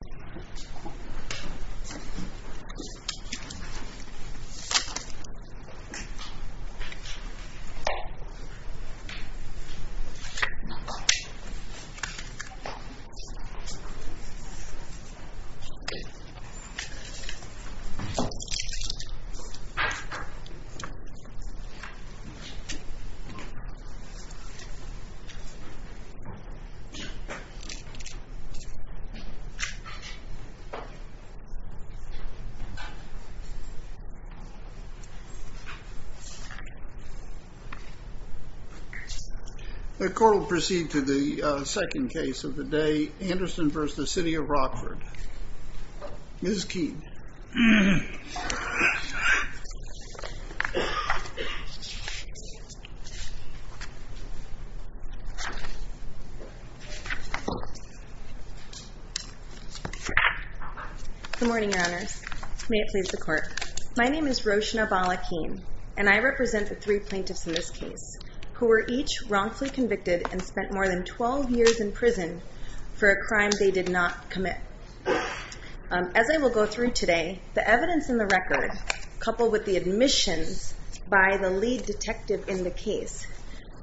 This is an order of magnitudemontage quid pro quo. Quid pro quo. Oh. Say again. Quid pro quo. Quid pro quo. The court will proceed to the second case of the day, Anderson v. The City of Rockford. Mrs. Keene. Good morning, Your Honors. May it please the court. My name is Roshna Bala-Keene, and I represent the three plaintiffs in this case, who were each wrongfully convicted and spent more than 12 years in prison for a crime they did not commit. As I will go through today, the evidence in the record, coupled with the admissions by the lead detective in the case,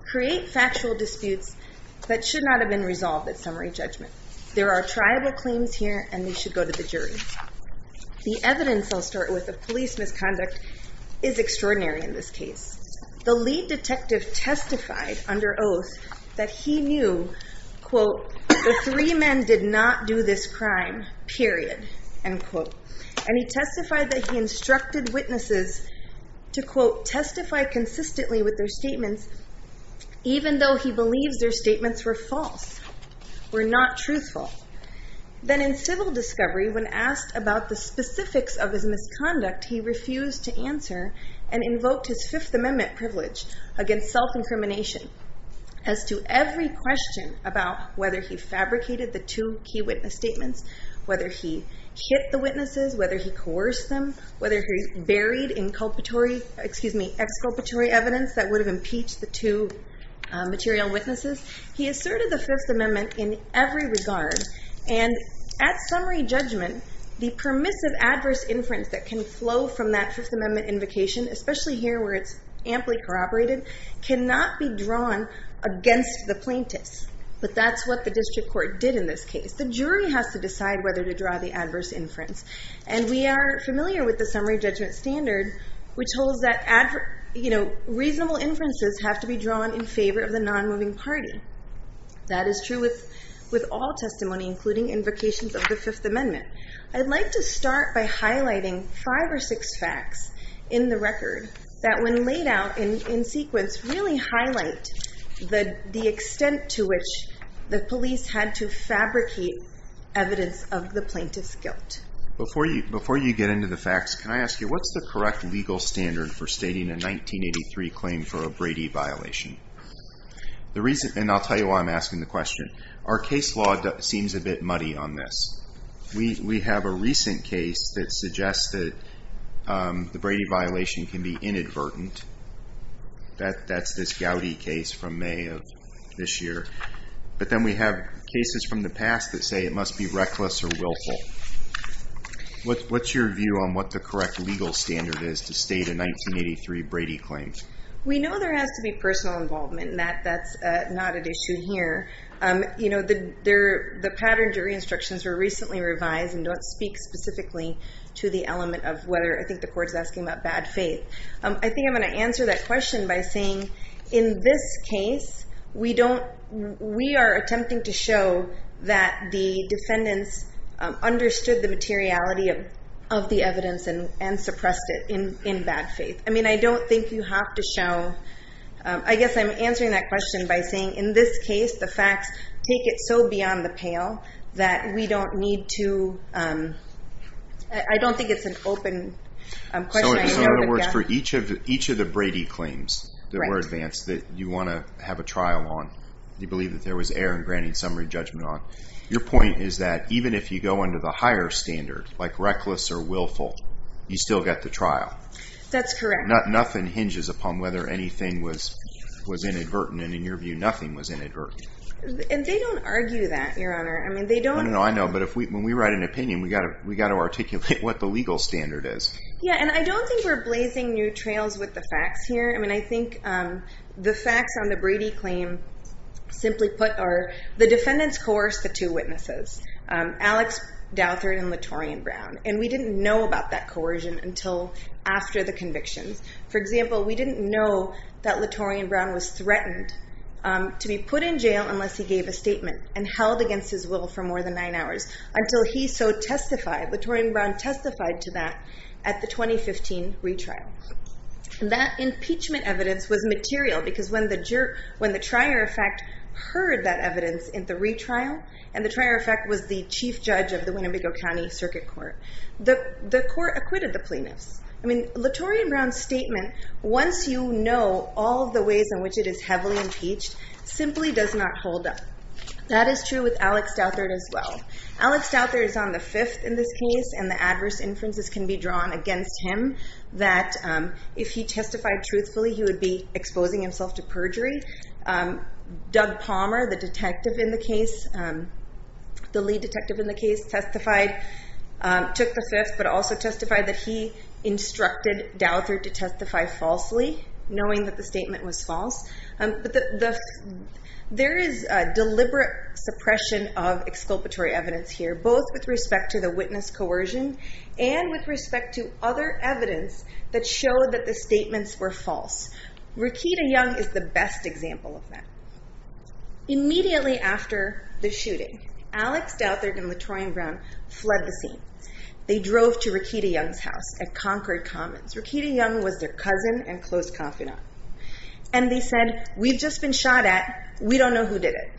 create factual disputes that should not have been resolved at summary judgment. There are triable claims here, and they should go to the jury. The evidence I'll start with of police misconduct is extraordinary in this case. The lead detective testified under oath that he knew, quote, the three men did not do this crime, period, end quote. And he testified that he instructed witnesses to, quote, testify consistently with their statements, even though he believes their statements were false, were not truthful. Then in civil discovery, when asked about the specifics of his misconduct, he refused to answer and invoked his Fifth Amendment privilege against self-incrimination as to every question about whether he fabricated the two key witness statements, whether he hit the witnesses, whether he coerced them, whether he buried exculpatory evidence that would have impeached the two material witnesses. He asserted the Fifth Amendment in every regard. And at summary judgment, the permissive adverse inference that can flow from that Fifth Amendment invocation, especially here where it's amply corroborated, cannot be drawn against the plaintiffs. But that's what the district court did in this case. The jury has to decide whether to draw the adverse inference. And we are familiar with the summary judgment standard, which holds that reasonable inferences have to be drawn in favor of the non-moving party. That is true with all testimony, including invocations of the Fifth Amendment. I'd like to start by highlighting five or six facts in the record that when laid out in sequence really highlight the extent to which the police had to fabricate evidence of the plaintiff's guilt. Before you get into the facts, can I ask you, what's the correct legal standard for stating a 1983 claim for a Brady violation? The reason, and I'll tell you why I'm asking the question, our case law seems a bit muddy on this. We have a recent case that suggests that the Brady violation can be inadvertent. That's this Gowdy case from May of this year. But then we have cases from the past that say it must be reckless or willful. What's your view on what the correct legal standard is to state a 1983 Brady claim? We know there has to be personal involvement, and that's not an issue here. You know, the pattern jury instructions were recently revised and don't speak specifically to the element of whether, I think the court's asking about bad faith. I think I'm going to answer that question by saying, in this case, we are attempting to show that the defendants understood the materiality of the evidence and suppressed it in bad faith. I mean, I don't think you have to show, I guess I'm answering that question by saying, in this case, the facts take it so beyond the pale that we don't need to, I don't think it's an open question. So in other words, for each of the Brady claims that were advanced that you want to have a trial on, you believe that there was error in granting summary judgment on, your point is that even if you go under the higher standard, like reckless or willful, you still get the trial. That's correct. Nothing hinges upon whether anything was inadvertent, and in your view, nothing was inadvertent. And they don't argue that, Your Honor. I mean, they don't- No, no, no, I know. But when we write an opinion, we got to articulate what the legal standard is. Yeah, and I don't think we're blazing new trails with the facts here. I mean, I think the facts on the Brady claim simply put are, the defendants coerced the two witnesses, Alex Douthert and Latorian Brown, and we didn't know about that coercion until after the convictions. For example, we didn't know that Latorian Brown was threatened to be put in jail unless he gave a statement, and held against his will for more than nine hours, until he so testified, Latorian Brown testified to that at the 2015 retrial. That impeachment evidence was material because when the trier, in fact, heard that evidence in the retrial, and the trier, in fact, was the chief judge of the Winnebago County Circuit Court, the court acquitted the plaintiffs. I mean, Latorian Brown's statement, once you know all of the ways in which it is heavily impeached, simply does not hold up. That is true with Alex Douthert as well. Alex Douthert is on the fifth in this case, and the adverse inferences can be drawn against him that if he testified truthfully, he would be exposing himself to perjury. Doug Palmer, the detective in the case, the lead detective in the case testified, took the fifth, but also testified that he instructed Douthert to testify falsely, knowing that the statement was false. There is deliberate suppression of exculpatory evidence here, both with respect to the witness coercion, and with respect to other evidence that showed that the statements were false. Rekita Young is the best example of that. Immediately after the shooting, Alex Douthert and Latorian Brown fled the scene. They drove to Rekita Young's house at Concord Commons. Rekita Young was their cousin and close confidant. And they said, we've just been shot at, we don't know who did it.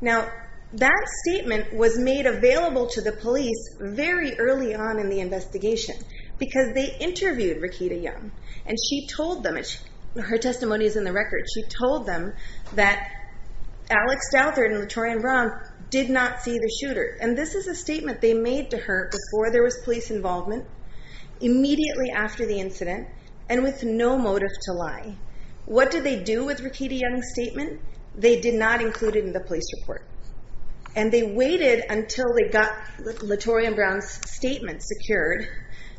Now, that statement was made available to the police very early on in the investigation, because they interviewed Rekita Young, and she told them, her testimony is in the record, she told them that Alex Douthert and Latorian Brown did not see the shooter. And this is a statement they made to her before there was police involvement, immediately after the incident, and with no motive to lie. What did they do with Rekita Young's statement? They did not include it in the police report. And they waited until they got Latorian Brown's statement secured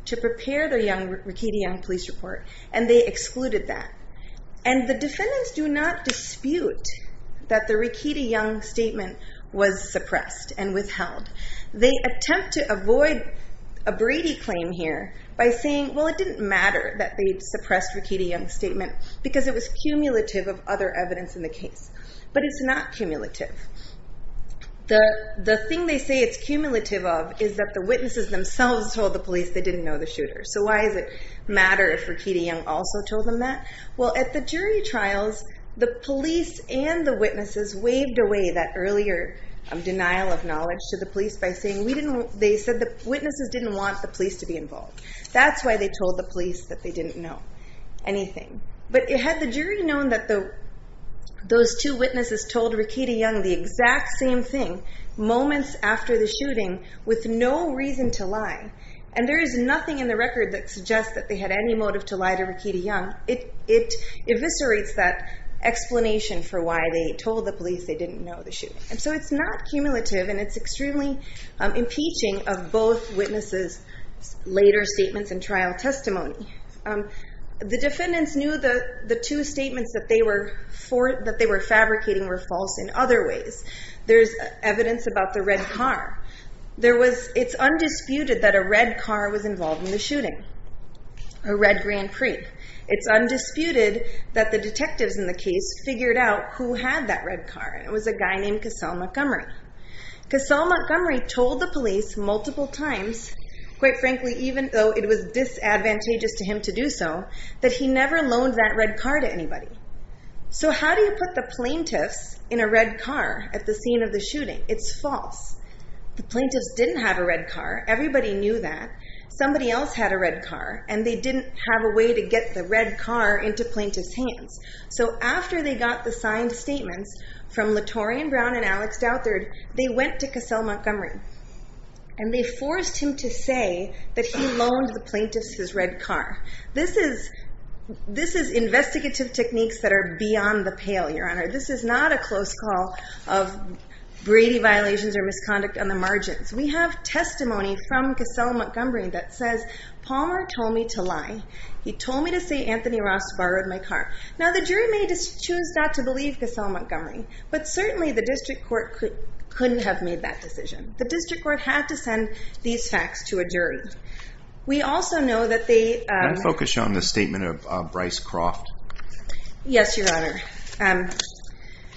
to prepare the Rekita Young police report, and they excluded that. And the defendants do not dispute that the Rekita Young statement was suppressed and withheld. They attempt to avoid a Brady claim here by saying, well, it didn't matter that they suppressed Rekita Young's statement, because it was cumulative of other evidence in the case. But it's not cumulative. The thing they say it's cumulative of is that the witnesses themselves told the police they didn't know the shooter. So why does it matter if Rekita Young also told them that? Well, at the jury trials, the police and the witnesses waved away that earlier denial of knowledge to the police by saying they said the witnesses didn't want the police to be involved. That's why they told the police that they didn't know anything. But had the jury known that those two witnesses told Rekita Young the exact same thing moments after the shooting with no reason to lie, and there is nothing in the record that suggests that they had any motive to lie to Rekita Young, it eviscerates that explanation for why they told the police they didn't know the shooting. And so it's not cumulative, and it's extremely impeaching of both witnesses' later statements and trial testimony. The defendants knew the two statements that they were fabricating were false in other ways. There's evidence about the red car. It's undisputed that a red car was involved in the shooting, a red Grand Prix. It's undisputed that the detectives in the case figured out who had that red car, and it was a guy named Casale Montgomery. Casale Montgomery told the police multiple times, quite frankly, even though it was disadvantageous to him to do so, that he never loaned that red car to anybody. So how do you put the plaintiffs in a red car at the scene of the shooting? It's false. The plaintiffs didn't have a red car. Everybody knew that. and they didn't have a way to get the red car into plaintiffs' hands. So after they got the signed statements from Latorian Brown and Alex Douthard, they went to Casale Montgomery, and they forced him to say that he loaned the plaintiffs his red car. This is investigative techniques that are beyond the pale, Your Honor. This is not a close call of Brady violations or misconduct on the margins. We have testimony from Casale Montgomery that says, Palmer told me to lie. He told me to say Anthony Ross borrowed my car. Now the jury may choose not to believe Casale Montgomery, but certainly the district court couldn't have made that decision. The district court had to send these facts to a jury. We also know that they- Can I focus on the statement of Bryce Croft? Yes, Your Honor.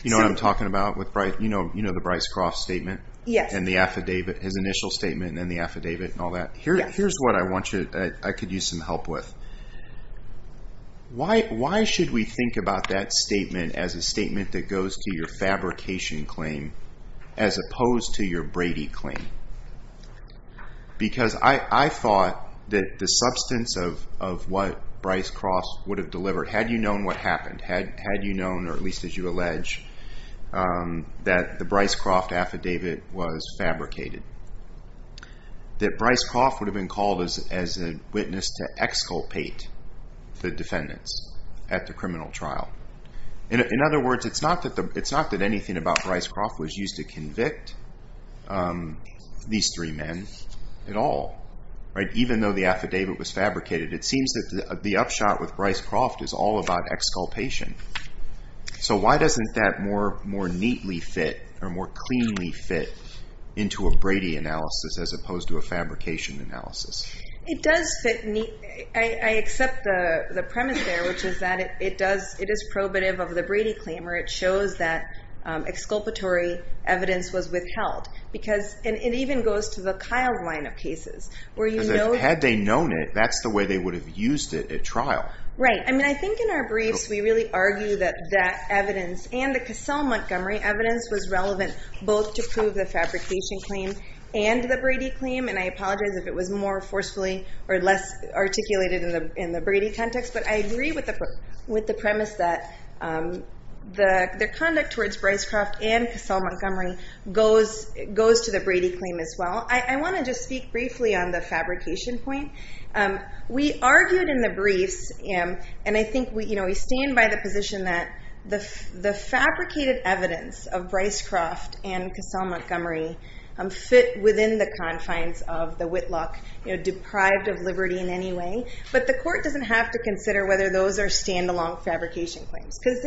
You know what I'm talking about with Bryce, you know the Bryce Croft statement? Yes. And the affidavit, his initial statement and the affidavit and all that. Here's what I want you, I could use some help with. Why should we think about that statement as a statement that goes to your fabrication claim as opposed to your Brady claim? Because I thought that the substance of what Bryce Croft would have delivered, had you known what happened, had you known, or at least as you allege, that the Bryce Croft affidavit was fabricated, that Bryce Croft would have been called as a witness to exculpate the defendants at the criminal trial. In other words, it's not that anything about Bryce Croft was used to convict these three men at all, right? Even though the affidavit was fabricated, it seems that the upshot with Bryce Croft is all about exculpation. So why doesn't that more neatly fit or more cleanly fit into a Brady analysis as opposed to a fabrication analysis? It does fit neatly. I accept the premise there, which is that it is probative of the Brady claim where it shows that exculpatory evidence was withheld. Because it even goes to the Kyle line of cases, where you know- Had they known it, that's the way they would have used it at trial. Right, I mean, I think in our briefs, we really argue that that evidence and the Cassell Montgomery evidence was relevant both to prove the fabrication claim and the Brady claim, and I apologize if it was more forcefully or less articulated in the Brady context, but I agree with the premise that their conduct towards Bryce Croft and Cassell Montgomery goes to the Brady claim as well. I wanna just speak briefly on the fabrication point. We argued in the briefs, and I think we stand by the position that the fabricated evidence of Bryce Croft and Cassell Montgomery fit within the confines of the Whitlock, deprived of liberty in any way, but the court doesn't have to consider whether those are stand-alone fabrication claims. Because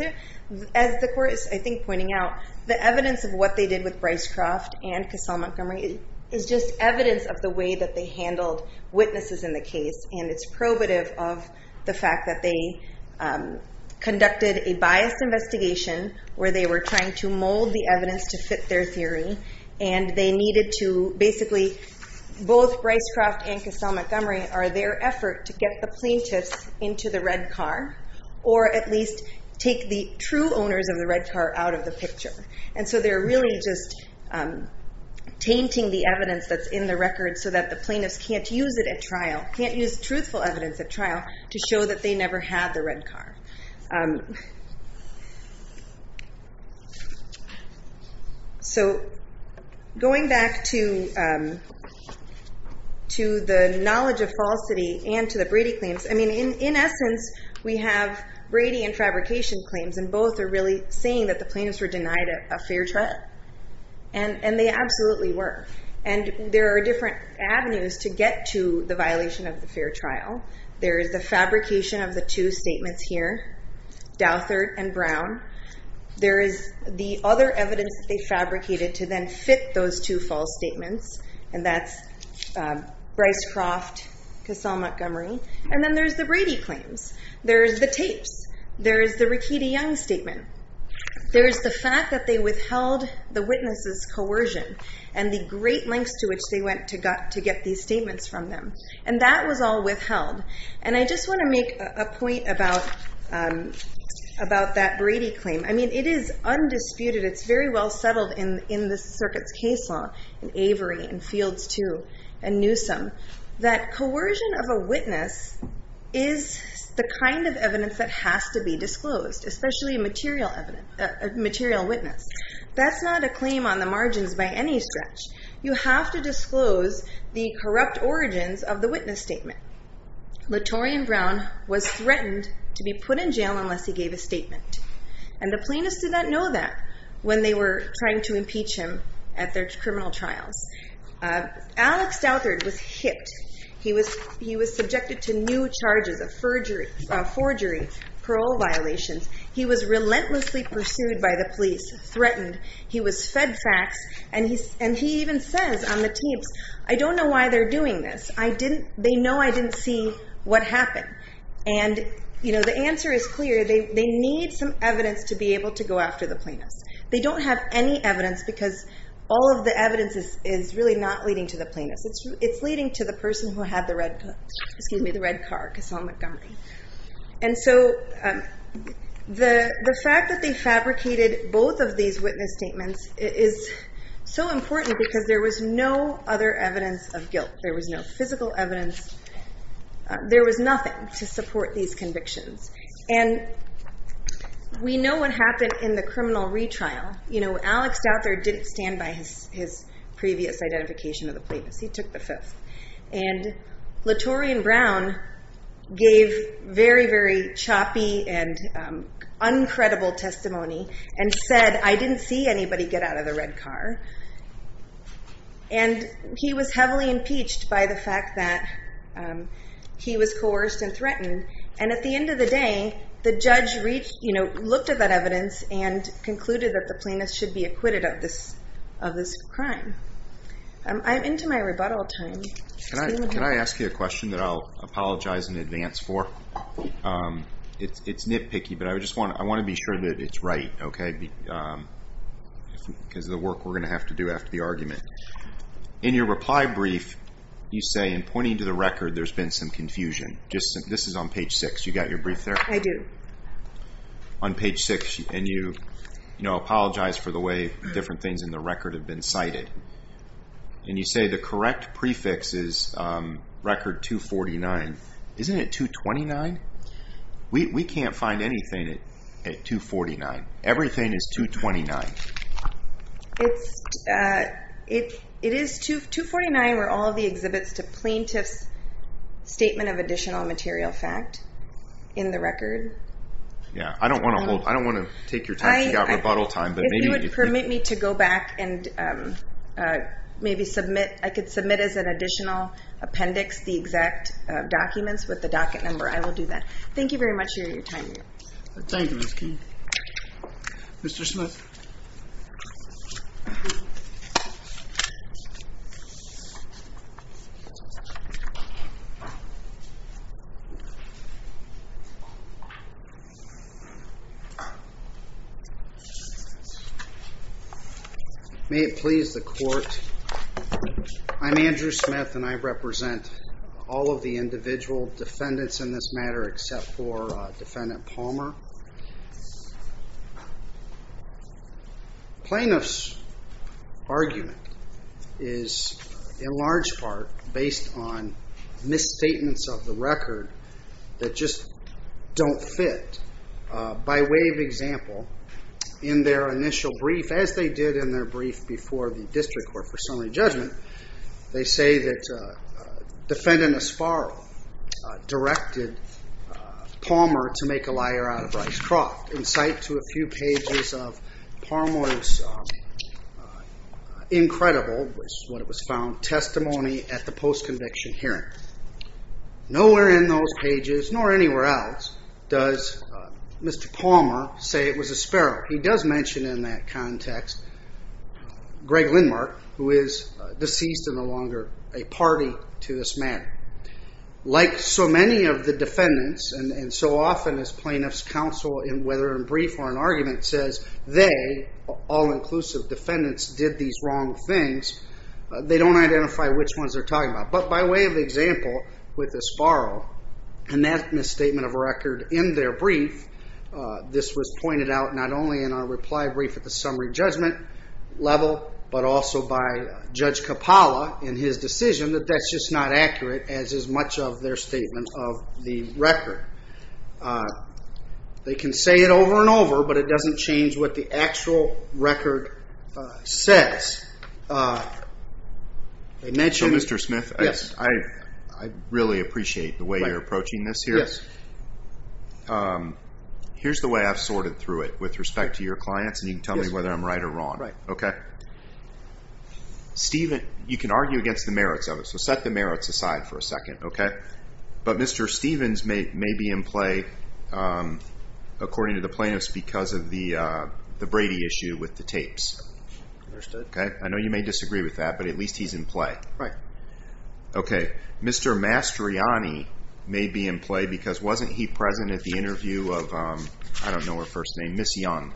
as the court is, I think, pointing out, the evidence of what they did with Bryce Croft and Cassell Montgomery is just evidence of the way that they handled witnesses in the case, and it's probative of the fact that they conducted a biased investigation where they were trying to mold the evidence to fit their theory, and they needed to, basically, both Bryce Croft and Cassell Montgomery are their effort to get the plaintiffs into the red car, or at least take the true owners of the red car out of the picture. And so they're really just tainting the evidence that's in the record so that the plaintiffs can't use it at trial, can't use truthful evidence at trial to show that they never had the red car. So going back to the knowledge of falsity and to the Brady claims, I mean, in essence, we have Brady and fabrication claims, and both are really saying that the plaintiffs were denied a fair trial, and they absolutely were. And there are different avenues to get to the violation of the fair trial. There is the fabrication of the two statements here, Douthert and Brown. There is the other evidence that they fabricated to then fit those two false statements, and that's Bryce Croft, Cassell Montgomery. And then there's the Brady claims. There's the tapes. There's the Rakiti Young statement. There's the fact that they withheld the witnesses' coercion and the great lengths to which they went to get these statements from them. And that was all withheld. And I just wanna make a point about that Brady claim. I mean, it is undisputed. It's very well settled in the circuit's case law in Avery and Fields too, and Newsom, that coercion of a witness is the kind of evidence that has to be disclosed, especially a material witness. That's not a claim on the margins by any stretch. You have to disclose the corrupt origins of the witness statement. Latorian Brown was threatened to be put in jail unless he gave a statement. And the plaintiffs did not know that when they were trying to impeach him at their criminal trials. Alex Douthert was hipped. He was subjected to new charges of forgery, parole violations. He was relentlessly pursued by the police, threatened. He was fed facts, and he even says on the tapes, I don't know why they're doing this. They know I didn't see what happened. And the answer is clear. They need some evidence to be able to go after the plaintiffs. They don't have any evidence because all of the evidence is really not leading to the plaintiffs. It's leading to the person who had the red, excuse me, the red car, Casson Montgomery. And so the fact that they fabricated both of these witness statements is so important because there was no other evidence of guilt. There was no physical evidence. There was nothing to support these convictions. And we know what happened in the criminal retrial. You know, Alex Douthert didn't stand by his previous identification of the plaintiffs. He took the fifth. And Latorian Brown gave very, very choppy and uncredible testimony and said, I didn't see anybody get out of the red car. And he was heavily impeached by the fact that he was coerced and threatened. And at the end of the day, the judge reached, you know, looked at that evidence and concluded that the plaintiffs should be acquitted of this crime. I'm into my rebuttal time. Can I ask you a question that I'll apologize in advance for? It's nitpicky, but I just want to be sure that it's right, okay? Because of the work we're going to have to do after the argument. In your reply brief, you say in pointing to the record, there's been some confusion. This is on page six. You got your brief there? I do. On page six, and you, you know, apologize for the way different things in the record have been cited. And you say the correct prefix is record 249. Isn't it 229? We can't find anything at 249. Everything is 229. It's, it is 249 where all of the exhibits to plaintiff's statement of additional material fact in the record. Yeah, I don't want to hold, I don't want to take your time. You got rebuttal time, but maybe- If you would permit me to go back and maybe submit, I could submit as an additional appendix the exact documents with the docket number. I will do that. Thank you very much for your time. Thank you, Mr. King. Mr. Smith. May it please the court, I'm Andrew Smith and I represent all of the individual defendants in this matter except for defendant Palmer. Plaintiff's argument is in large part based on misstatements of the record that just don't fit. By way of example, in their initial brief, as they did in their brief before the district court for summary judgment, they say that defendant Esparro directed Palmer to make a liar out of Bryce Croft. In sight to a few pages of Palmer's incredible, which is what it was found, testimony at the post-conviction hearing. Nowhere in those pages, nor anywhere else, does Mr. Palmer say it was Esparro. He does mention in that context, Greg Lindmark, who is deceased and no longer a party to this matter. Like so many of the defendants, and so often as plaintiff's counsel, whether in brief or in argument, says they, all inclusive defendants, did these wrong things, they don't identify which ones they're talking about. But by way of example, with Esparro, in that misstatement of record in their brief, this was pointed out not only in our reply brief at the summary judgment level, but also by Judge Coppola in his decision that that's just not accurate as is much of their statement of the record. They can say it over and over, but it doesn't change what the actual record says. They mentioned- So Mr. Smith, I really appreciate the way you're approaching this here. Yes. Here's the way I've sorted through it with respect to your clients, and you can tell me whether I'm right or wrong. Right. Okay. You can argue against the merits of it, so set the merits aside for a second, okay? But Mr. Stevens may be in play, according to the plaintiffs, because of the Brady issue with the tapes. Understood. Okay, I know you may disagree with that, but at least he's in play. Right. Okay, Mr. Mastriani may be in play because wasn't he present at the interview of, I don't know her first name, Ms. Young,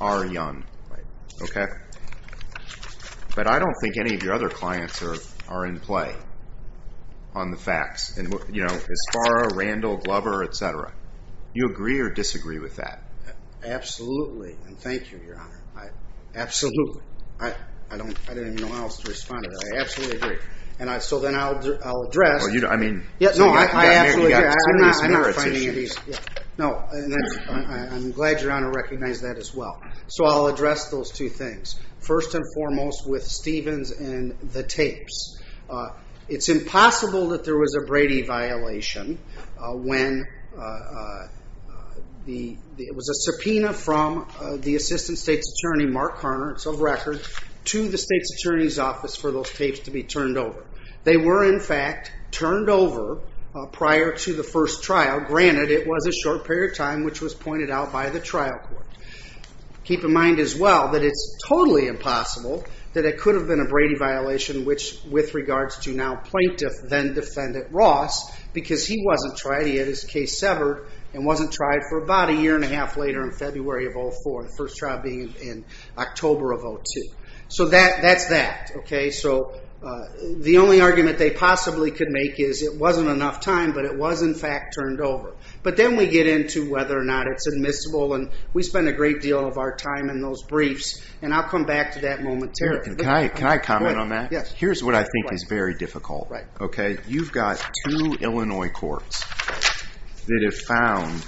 R. Young? Right. Okay. But I don't think any of your other clients are in play on the facts. And, you know, Isfara, Randall, Glover, et cetera. You agree or disagree with that? Absolutely, and thank you, Your Honor. Absolutely. I don't even know how else to respond to that. I absolutely agree. And so then I'll address- Well, you don't, I mean- No, I absolutely agree, I'm not finding it easy. No, and I'm glad Your Honor recognized that as well. So I'll address those two things. First and foremost with Stevens and the tapes. It's impossible that there was a Brady violation when it was a subpoena from the Assistant State's Attorney, Mark Carner, it's of record, to the State's Attorney's Office for those tapes to be turned over. They were, in fact, turned over prior to the first trial. Granted, it was a short period of time which was pointed out by the trial court. Keep in mind as well that it's totally impossible that it could have been a Brady violation which, with regards to now plaintiff, then defendant, Ross, because he wasn't tried, he had his case severed, and wasn't tried for about a year and a half later in February of 04, the first trial being in October of 02. So that's that, okay? So the only argument they possibly could make is it wasn't enough time, but it was, in fact, turned over. But then we get into whether or not it's admissible, and we spend a great deal of our time in those briefs, and I'll come back to that momentarily. Can I comment on that? Here's what I think is very difficult, okay? You've got two Illinois courts that have found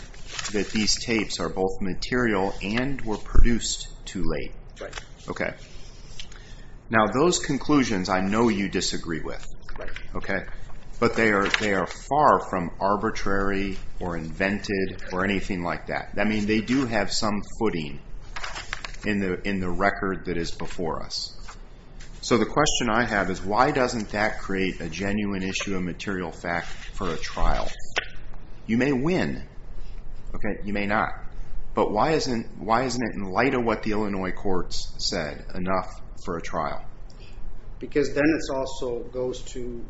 that these tapes are both material and were produced too late, okay? Now those conclusions I know you disagree with, okay? But they are far from arbitrary, or invented, or anything like that. They do have some footing in the record that is before us. So the question I have is why doesn't that create a genuine issue of material fact for a trial? You may win, okay, you may not, but why isn't it, in light of what the Illinois courts said, enough for a trial? Because then it also goes to,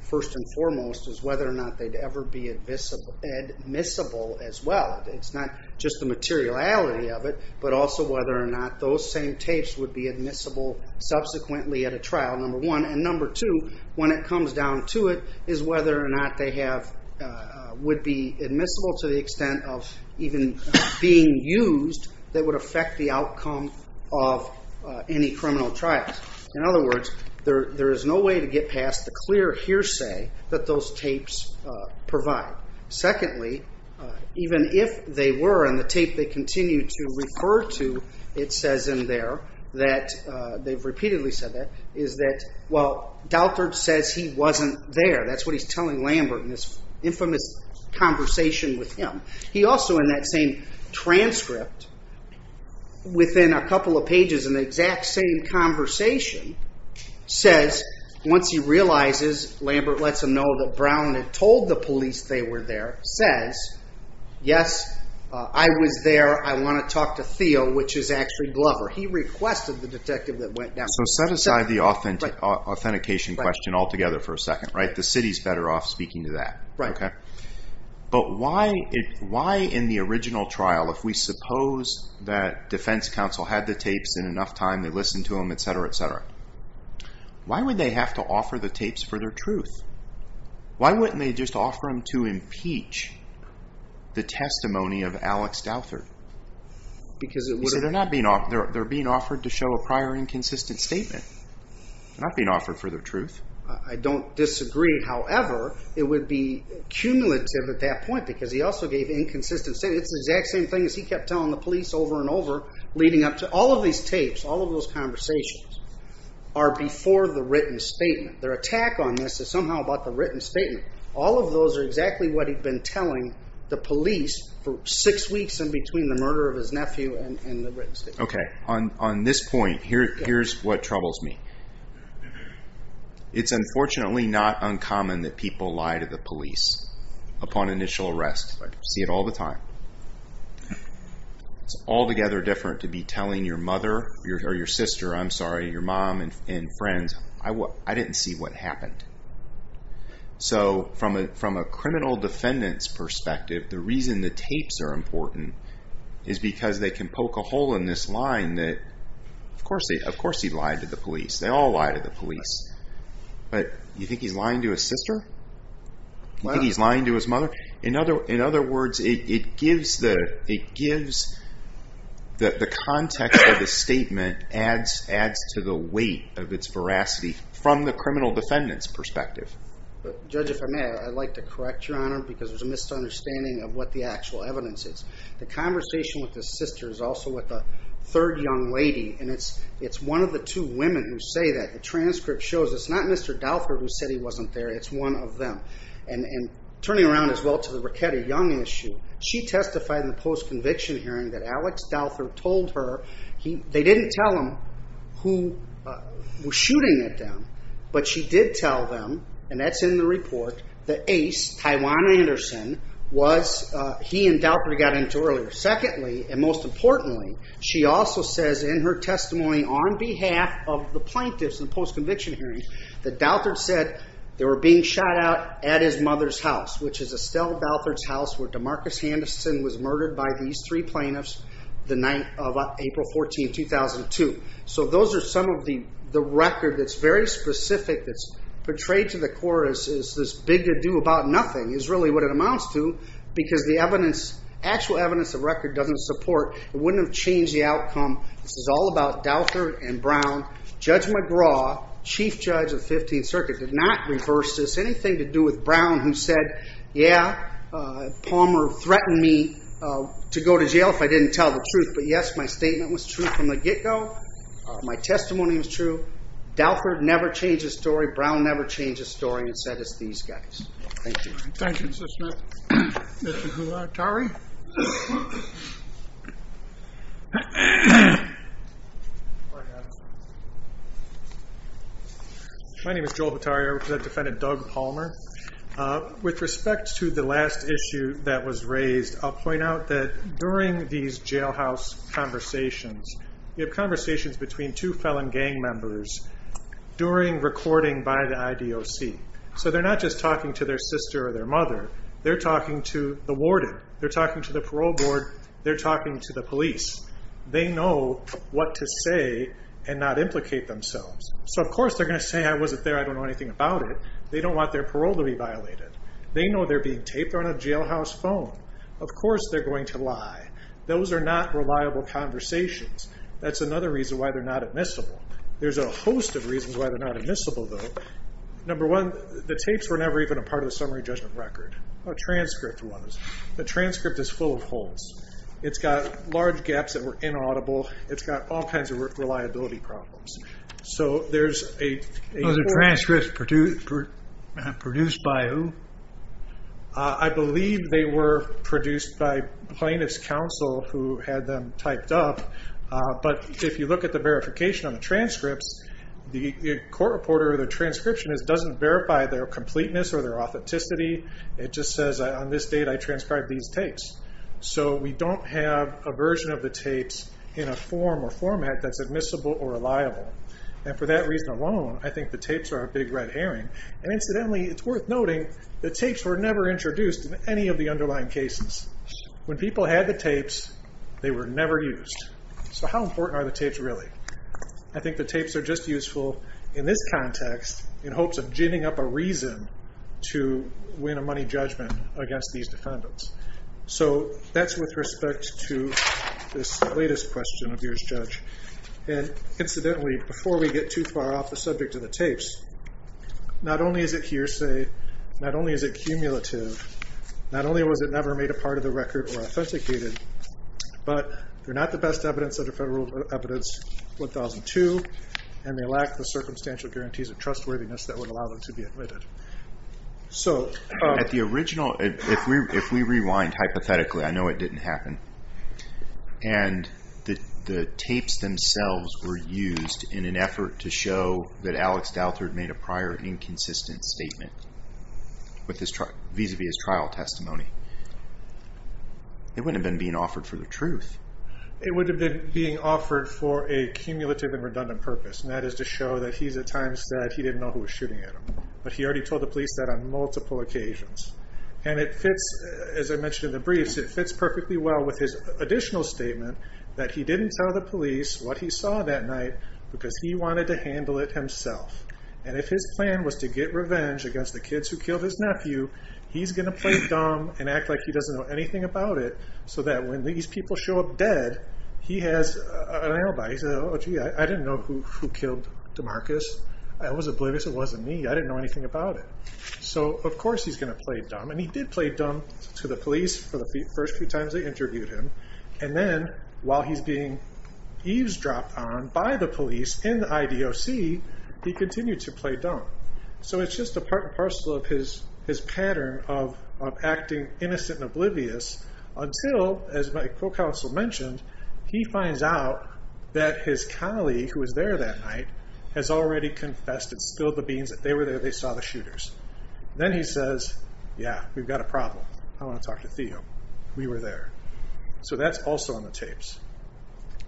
first and foremost, is whether or not they'd ever be admissible as well. It's not just the materiality of it, but also whether or not those same tapes would be admissible subsequently at a trial, number one. And number two, when it comes down to it, is whether or not they would be admissible to the extent of even being used that would affect the outcome of any criminal trials. In other words, there is no way to get past the clear hearsay that those tapes provide. Secondly, even if they were, and the tape they continue to refer to, it says in there that, they've repeatedly said that, is that, well, Douthert says he wasn't there. That's what he's telling Lambert in this infamous conversation with him. He also, in that same transcript, within a couple of pages in the exact same conversation, says, once he realizes, Lambert lets him know that Brown had told the police they were there, says, yes, I was there, I wanna talk to Theo, which is actually Glover. He requested the detective that went down. So set aside the authentication question altogether for a second, right? The city's better off speaking to that, okay? But why in the original trial, if we suppose that defense counsel had the tapes in enough time, they listened to them, et cetera, et cetera, why would they have to offer the tapes for their truth? Why wouldn't they just offer them to impeach the testimony of Alex Douthert? Because it would've- You see, they're being offered to show a prior inconsistent statement. They're not being offered for their truth. I don't disagree. However, it would be cumulative at that point because he also gave inconsistent statements, the exact same thing as he kept telling the police over and over, leading up to all of these tapes, all of those conversations are before the written statement. Their attack on this is somehow about the written statement. All of those are exactly what he'd been telling the police for six weeks in between the murder of his nephew and the written statement. Okay, on this point, here's what troubles me. It's unfortunately not uncommon that people lie to the police upon initial arrest. See it all the time. It's altogether different to be telling your mother, or your sister, I'm sorry, your mom and friends, I didn't see what happened. So from a criminal defendant's perspective, the reason the tapes are important is because they can poke a hole in this line that of course he lied to the police. They all lie to the police. But you think he's lying to his sister? You think he's lying to his mother? In other words, it gives the context of the statement adds to the weight of its veracity from the criminal defendant's perspective. Judge, if I may, I'd like to correct your honor because there's a misunderstanding of what the actual evidence is. The conversation with his sister is also with a third young lady, and it's one of the two women who say that. The transcript shows it's not Mr. Dauther who said he wasn't there, it's one of them. And turning around as well to the Raquette Young issue, she testified in the post-conviction hearing that Alex Dauther told her, they didn't tell him who was shooting at them, but she did tell them, and that's in the report, that Ace, Tywan Anderson, was he and Dauther got into earlier. Secondly, and most importantly, she also says in her testimony on behalf of the plaintiffs in the post-conviction hearing that Dauther said they were being shot out at his mother's house, which is Estelle Dauther's house where Demarcus Henderson was murdered by these three plaintiffs the night of April 14, 2002. So those are some of the record that's very specific, that's portrayed to the court as this big ado about nothing is really what it amounts to, because the actual evidence of record doesn't support, it wouldn't have changed the outcome. This is all about Dauther and Brown. Judge McGraw, Chief Judge of 15th Circuit, did not reverse this. Anything to do with Brown who said, yeah, Palmer threatened me to go to jail if I didn't tell the truth, but yes, my statement was true from the get-go, my testimony was true. Dauther never changed his story, Brown never changed his story, and said it's these guys. Thank you. Thank you, Mr. Smith. Mr. Hulotari. My name is Joel Hulotari, I represent defendant Doug Palmer. With respect to the last issue that was raised, I'll point out that during these jailhouse conversations, we have conversations between two felon gang members during recording by the IDOC. So they're not just talking to their sister or their mother, they're talking to the warden, they're talking to the parole board, they're talking to the police. They know what to say and not implicate themselves. So of course they're gonna say, I wasn't there, I don't know anything about it. They don't want their parole to be violated. They know they're being taped on a jailhouse phone. Of course they're going to lie. Those are not reliable conversations. That's another reason why they're not admissible. There's a host of reasons why they're not admissible though. Number one, the tapes were never even a part of the summary judgment record, a transcript was. The transcript is full of holes. It's got large gaps that were inaudible, it's got all kinds of reliability problems. So there's a- The tapes were produced by who? I believe they were produced by plaintiff's counsel who had them typed up. But if you look at the verification on the transcripts, the court reporter or the transcriptionist doesn't verify their completeness or their authenticity. It just says on this date, I transcribed these tapes. So we don't have a version of the tapes in a form or format that's admissible or reliable. And for that reason alone, I think the tapes are a big red herring. And incidentally, it's worth noting the tapes were never introduced in any of the underlying cases. When people had the tapes, they were never used. So how important are the tapes really? I think the tapes are just useful in this context in hopes of ginning up a reason to win a money judgment against these defendants. So that's with respect to this latest question of yours, Judge. And incidentally, before we get too far off the subject of the tapes, not only is it hearsay, not only is it cumulative, not only was it never made a part of the record or authenticated, but they're not the best evidence under Federal Evidence 1002, and they lack the circumstantial guarantees of trustworthiness that would allow them to be admitted. So- At the original, if we rewind hypothetically, I know it didn't happen. And the tapes themselves were used in an effort to show that Alex Douthert made a prior inconsistent statement vis-a-vis his trial testimony. It wouldn't have been being offered for the truth. It would have been being offered for a cumulative and redundant purpose, and that is to show that he's at times that he didn't know who was shooting at him. But he already told the police that on multiple occasions. And it fits, as I mentioned in the briefs, it fits perfectly well with his additional statement that he didn't tell the police what he saw that night because he wanted to handle it himself. And if his plan was to get revenge against the kids who killed his nephew, he's gonna play dumb and act like he doesn't know anything about it so that when these people show up dead, he has an alibi. He says, oh gee, I didn't know who killed DeMarcus. I was oblivious, it wasn't me. I didn't know anything about it. So of course he's gonna play dumb. And he did play dumb to the police for the first few times they interviewed him. And then while he's being eavesdropped on by the police in the IDOC, he continued to play dumb. So it's just a part and parcel of his pattern of acting innocent and oblivious until, as my co-counsel mentioned, he finds out that his colleague who was there that night has already confessed and spilled the beans that they were there, they saw the shooters. Then he says, yeah, we've got a problem. I wanna talk to Theo. We were there. So that's also on the tapes.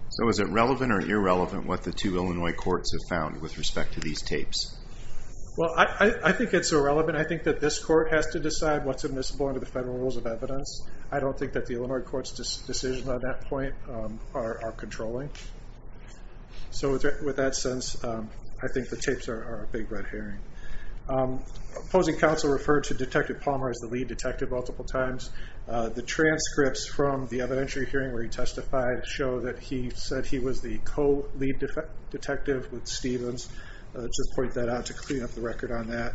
So is it relevant or irrelevant what the two Illinois courts have found with respect to these tapes? Well, I think it's irrelevant. I think that this court has to decide what's admissible under the federal rules of evidence. I don't think that the Illinois court's decisions on that point are controlling. So with that sense, I think the tapes are a big red herring. Opposing counsel referred to Detective Palmer as the lead detective multiple times. The transcripts from the evidentiary hearing where he testified show that he said he was the co-lead detective with Stevens. Just point that out to clean up the record on that.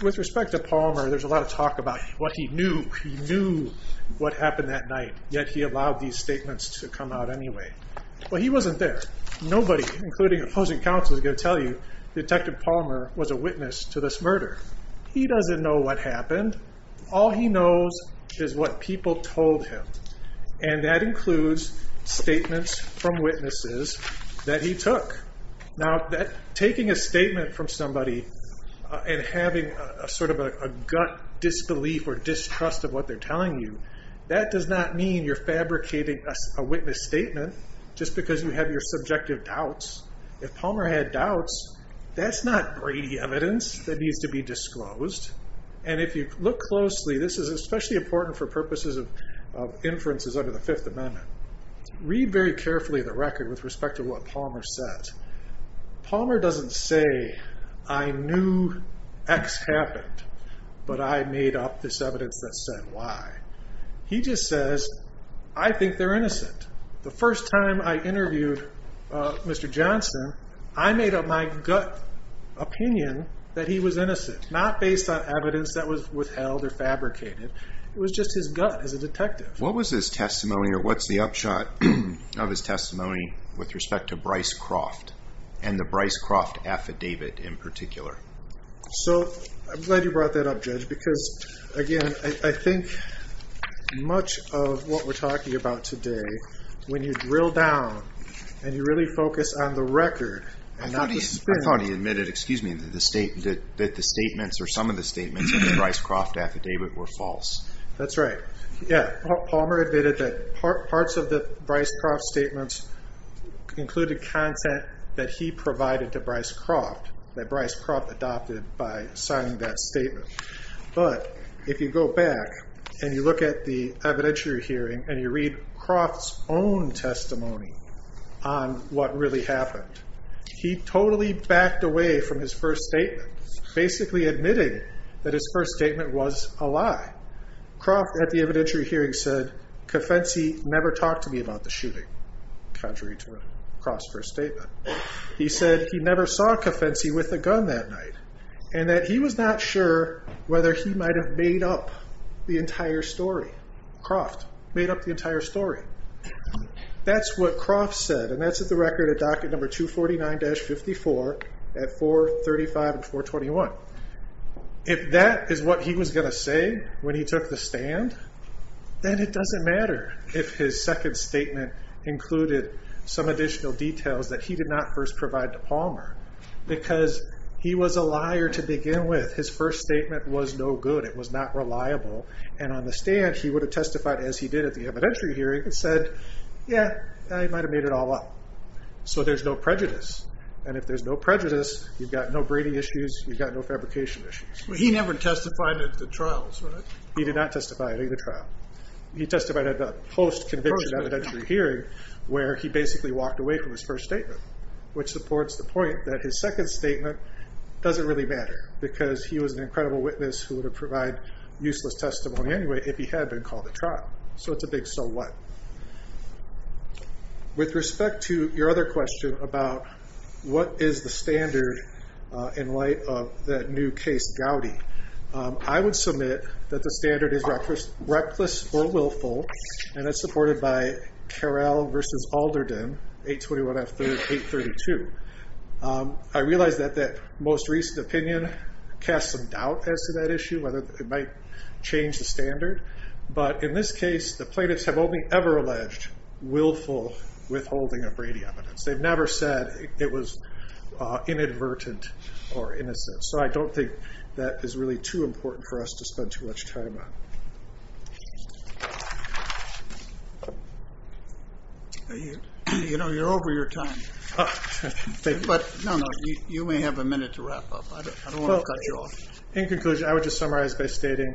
With respect to Palmer, there's a lot of talk about what he knew. He knew what happened that night, yet he allowed these statements to come out anyway. Well, he wasn't there. Nobody, including opposing counsel, is gonna tell you Detective Palmer was a witness to this murder. He doesn't know what happened. All he knows is what people told him, and that includes statements from witnesses that he took. Now, taking a statement from somebody and having a sort of a gut disbelief or distrust of what they're telling you, that does not mean you're fabricating a witness statement just because you have your subjective doubts. If Palmer had doubts, that's not Brady evidence that needs to be disclosed. And if you look closely, this is especially important for purposes of inferences under the Fifth Amendment. Read very carefully the record with respect to what Palmer says. Palmer doesn't say, I knew X happened, but I made up this evidence that said Y. He just says, I think they're innocent. The first time I interviewed Mr. Johnson, I made up my gut opinion that he was innocent, not based on evidence that was withheld or fabricated. It was just his gut as a detective. What was his testimony or what's the upshot of his testimony with respect to Bryce Croft and the Bryce Croft affidavit in particular? So I'm glad you brought that up, Judge, because again, I think much of what we're talking about today when you drill down and you really focus on the record and not the spin. I thought he admitted, excuse me, that the statements or some of the statements in the Bryce Croft affidavit were false. That's right. Yeah, Palmer admitted that parts of the Bryce Croft statements included content that he provided to Bryce Croft, that Bryce Croft adopted by signing that statement. But if you go back and you look at the evidentiary hearing and you read Croft's own testimony on what really happened, he totally backed away from his first statement, basically admitting that his first statement was a lie. Croft, at the evidentiary hearing, said, "'Cofensi' never talked to me about the shooting," contrary to Croft's first statement. He said he never saw Cofensi with a gun that night and that he was not sure whether he might have made up the entire story. Croft made up the entire story. That's what Croft said, and that's at the record on page 21. If that is what he was gonna say when he took the stand, then it doesn't matter if his second statement included some additional details that he did not first provide to Palmer because he was a liar to begin with. His first statement was no good. It was not reliable, and on the stand, he would have testified as he did at the evidentiary hearing and said, "'Yeah, I might have made it all up.'" So there's no prejudice, and if there's no prejudice, you've got no breeding issues, you've got no fabrication issues. But he never testified at the trials, right? He did not testify at either trial. He testified at the post-conviction evidentiary hearing where he basically walked away from his first statement, which supports the point that his second statement doesn't really matter because he was an incredible witness who would have provided useless testimony anyway if he had been called to trial. So it's a big so what. With respect to your other question about what is the standard in light of that new case, Gowdy, I would submit that the standard is reckless or willful, and that's supported by Carrell v. Alderden, 821 F. 832. I realize that that most recent opinion casts some doubt as to that issue, whether it might change the standard, but in this case, the plaintiffs have only ever alleged willful withholding of Brady evidence. They've never said it was inadvertent or innocent. So I don't think that is really too important for us to spend too much time on. You know, you're over your time. But no, no, you may have a minute to wrap up. I don't want to cut you off. In conclusion, I would just summarize by stating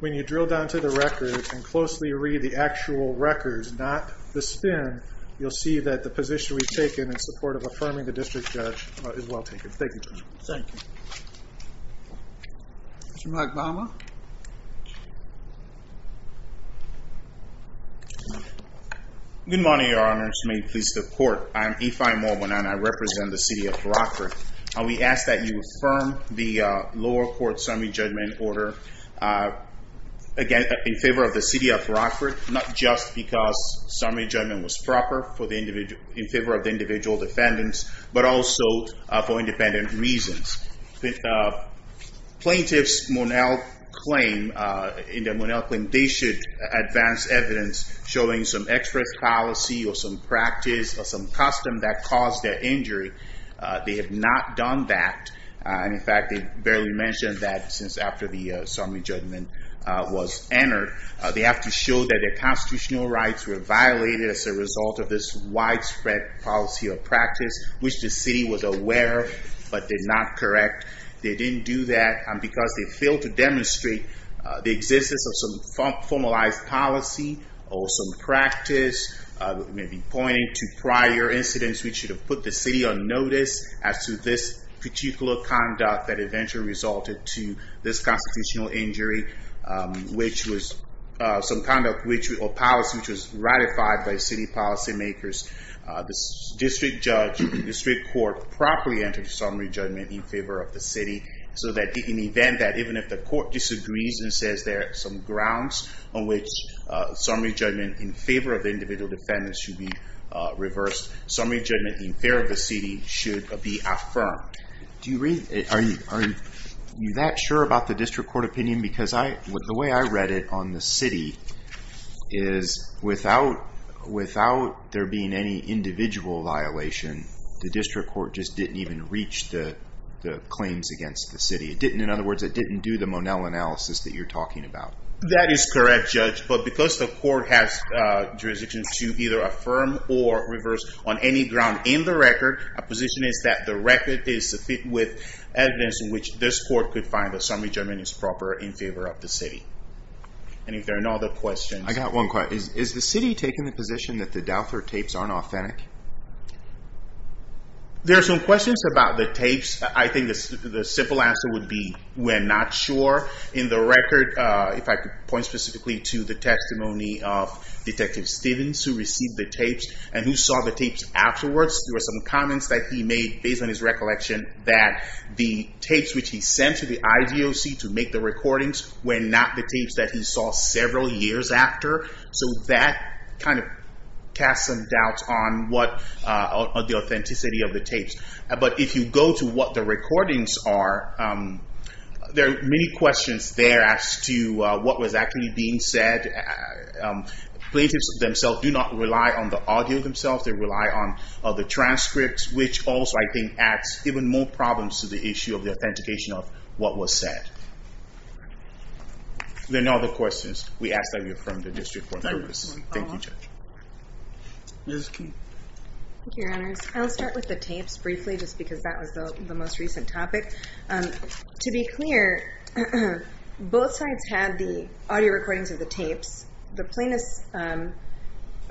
when you drill down to the records and closely read the actual records, not the spin, you'll see that the position we've taken in support of affirming the district judge is well taken. Thank you. Thank you. Mr. McBama. Good morning, your honors. May it please the court. I am Ife Morbon and I represent the city of Brockford. We ask that you affirm the lower court summary judgment order, again, in favor of the city of Brockford, not just because summary judgment was proper in favor of the individual defendants, but also for independent reasons. Plaintiffs, in their Monell claim, they should advance evidence showing some express policy or some practice or some custom that caused their injury. They have not done that. And in fact, they barely mentioned that since after the summary judgment was entered. They have to show that their constitutional rights were violated as a result of this widespread policy or practice, which the city was aware but did not correct. They didn't do that because they failed to demonstrate the existence of some formalized policy or some practice, maybe pointing to prior incidents which should have put the city on notice as to this particular conduct that eventually resulted to this constitutional injury, which was some kind of policy which was ratified by city policy makers. The district judge, the district court properly entered summary judgment in favor of the city so that in the event that even if the court disagrees and says there are some grounds on which summary judgment in favor of the individual defendants should be reversed, summary judgment in favor of the city should be affirmed. Do you read, are you that sure about the district court opinion? Because the way I read it on the city is without there being any individual violation, the district court just didn't even reach the claims against the city. It didn't, in other words, it didn't do the Monel analysis that you're talking about. That is correct, Judge, but because the court has jurisdiction to either affirm or reverse on any ground in the record, our position is that the record is to fit with evidence in which this court could find that summary judgment is proper in favor of the city. And if there are no other questions. I got one question. Is the city taking the position that the Dauther tapes aren't authentic? There are some questions about the tapes. I think the simple answer would be we're not sure. In the record, if I could point specifically to the testimony of Detective Stevens who received the tapes and who saw the tapes afterwards, there were some comments that he made based on his recollection that the tapes which he sent to the IDOC to make the recordings were not the tapes that he saw several years after. So that kind of casts some doubts on the authenticity of the tapes. But if you go to what the recordings are, there are many questions there as to what was actually being said. Plaintiffs themselves do not rely on the audio themselves. They rely on the transcripts, which also, I think, adds even more problems to the issue of the authentication of what was said. There are no other questions we ask that we have from the District Court. Thank you, Judge. Ms. King. Thank you, Your Honors. I'll start with the tapes briefly just because that was the most recent topic. To be clear, both sides had the audio recordings of the tapes. The plaintiff's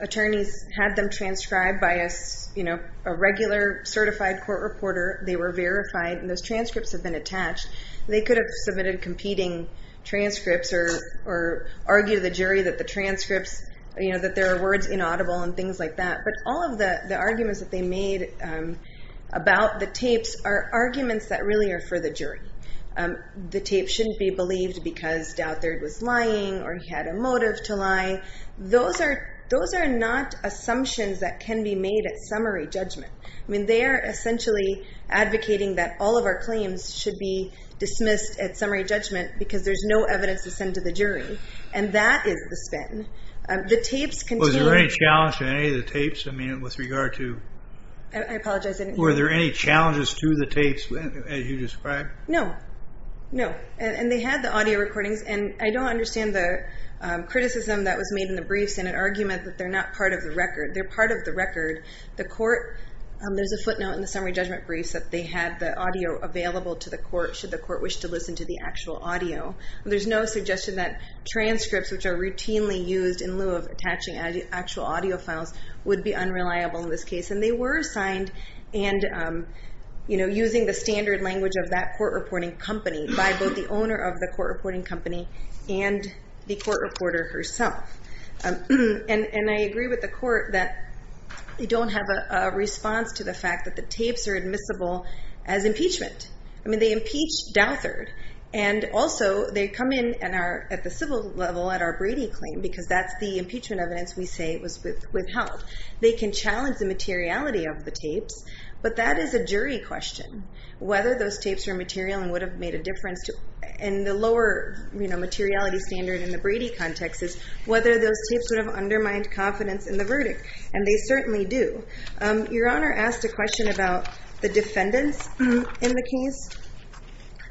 attorneys had them transcribed by a regular certified court reporter. They were verified, and those transcripts had been attached. They could have submitted competing transcripts or argued to the jury that the transcripts, that there are words inaudible and things like that. But all of the arguments that they made about the tapes are arguments that really are for the jury. The tape shouldn't be believed because Douthard was lying or he had a motive to lie. Those are not assumptions that can be made at summary judgment. I mean, they are essentially advocating that all of our claims should be dismissed at summary judgment because there's no evidence to send to the jury. And that is the spin. The tapes contain- Was there any challenge to any of the tapes? I mean, with regard to- I apologize, I didn't hear you. Were there any challenges to the tapes as you described? No, no. And they had the audio recordings. And I don't understand the criticism that was made in the briefs in an argument that they're not part of the record. They're part of the record. The court, there's a footnote in the summary judgment briefs that they had the audio available to the court should the court wish to listen to the actual audio. There's no suggestion that transcripts, which are routinely used in lieu of attaching actual audio files, would be unreliable in this case. And they were signed and using the standard language of that court reporting company by both the owner of the court reporting company and the court reporter herself. And I agree with the court that we don't have a response to the fact that the tapes are admissible as impeachment. I mean, they impeached Douthard. And also, they come in at the civil level at our Brady claim because that's the impeachment evidence we say was withheld. They can challenge the materiality of the tapes, but that is a jury question. Whether those tapes are material and would have made a difference to, and the lower materiality standard in the Brady context is whether those tapes would have undermined confidence in the verdict. And they certainly do. Your Honor asked a question about the defendants in the case.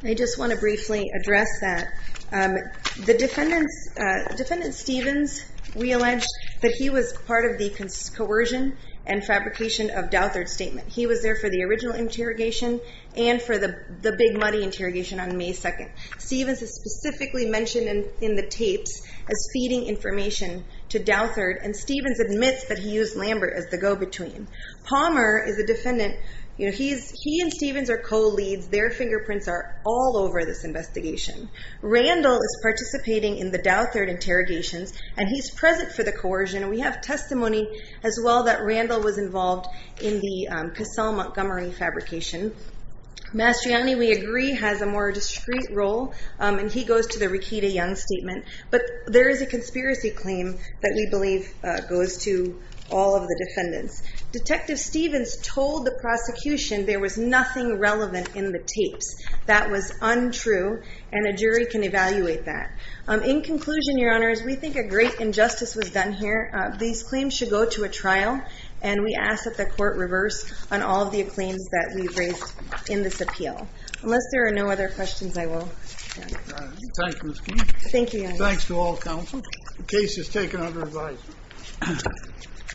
I just want to briefly address that. The defendants, Defendant Stevens, we allege that he was part of the coercion and fabrication of Douthard's statement. He was there for the original interrogation and for the Big Muddy interrogation on May 2nd. Stevens is specifically mentioned in the tapes as feeding information to Douthard, and Stevens admits that he used Lambert as the go-between. Palmer is a defendant. He and Stevens are co-leads. Their fingerprints are all over this investigation. Randall is participating in the Douthard interrogations, and he's present for the coercion. We have testimony as well that Randall was involved in the Cassel-Montgomery fabrication. Mastriani, we agree, has a more discreet role, and he goes to the Rekita Young statement, but there is a conspiracy claim that we believe goes to all of the defendants. Detective Stevens told the prosecution there was nothing relevant in the tapes. That was untrue, and a jury can evaluate that. In conclusion, Your Honors, we think a great injustice was done here. These claims should go to a trial, and we ask that the court reverse on all of the claims that we've raised in this appeal. Unless there are no other questions, I will stand. Thank you, Ms. Keefe. Thank you, Your Honors. Thanks to all counsel. The case is taken under advisory.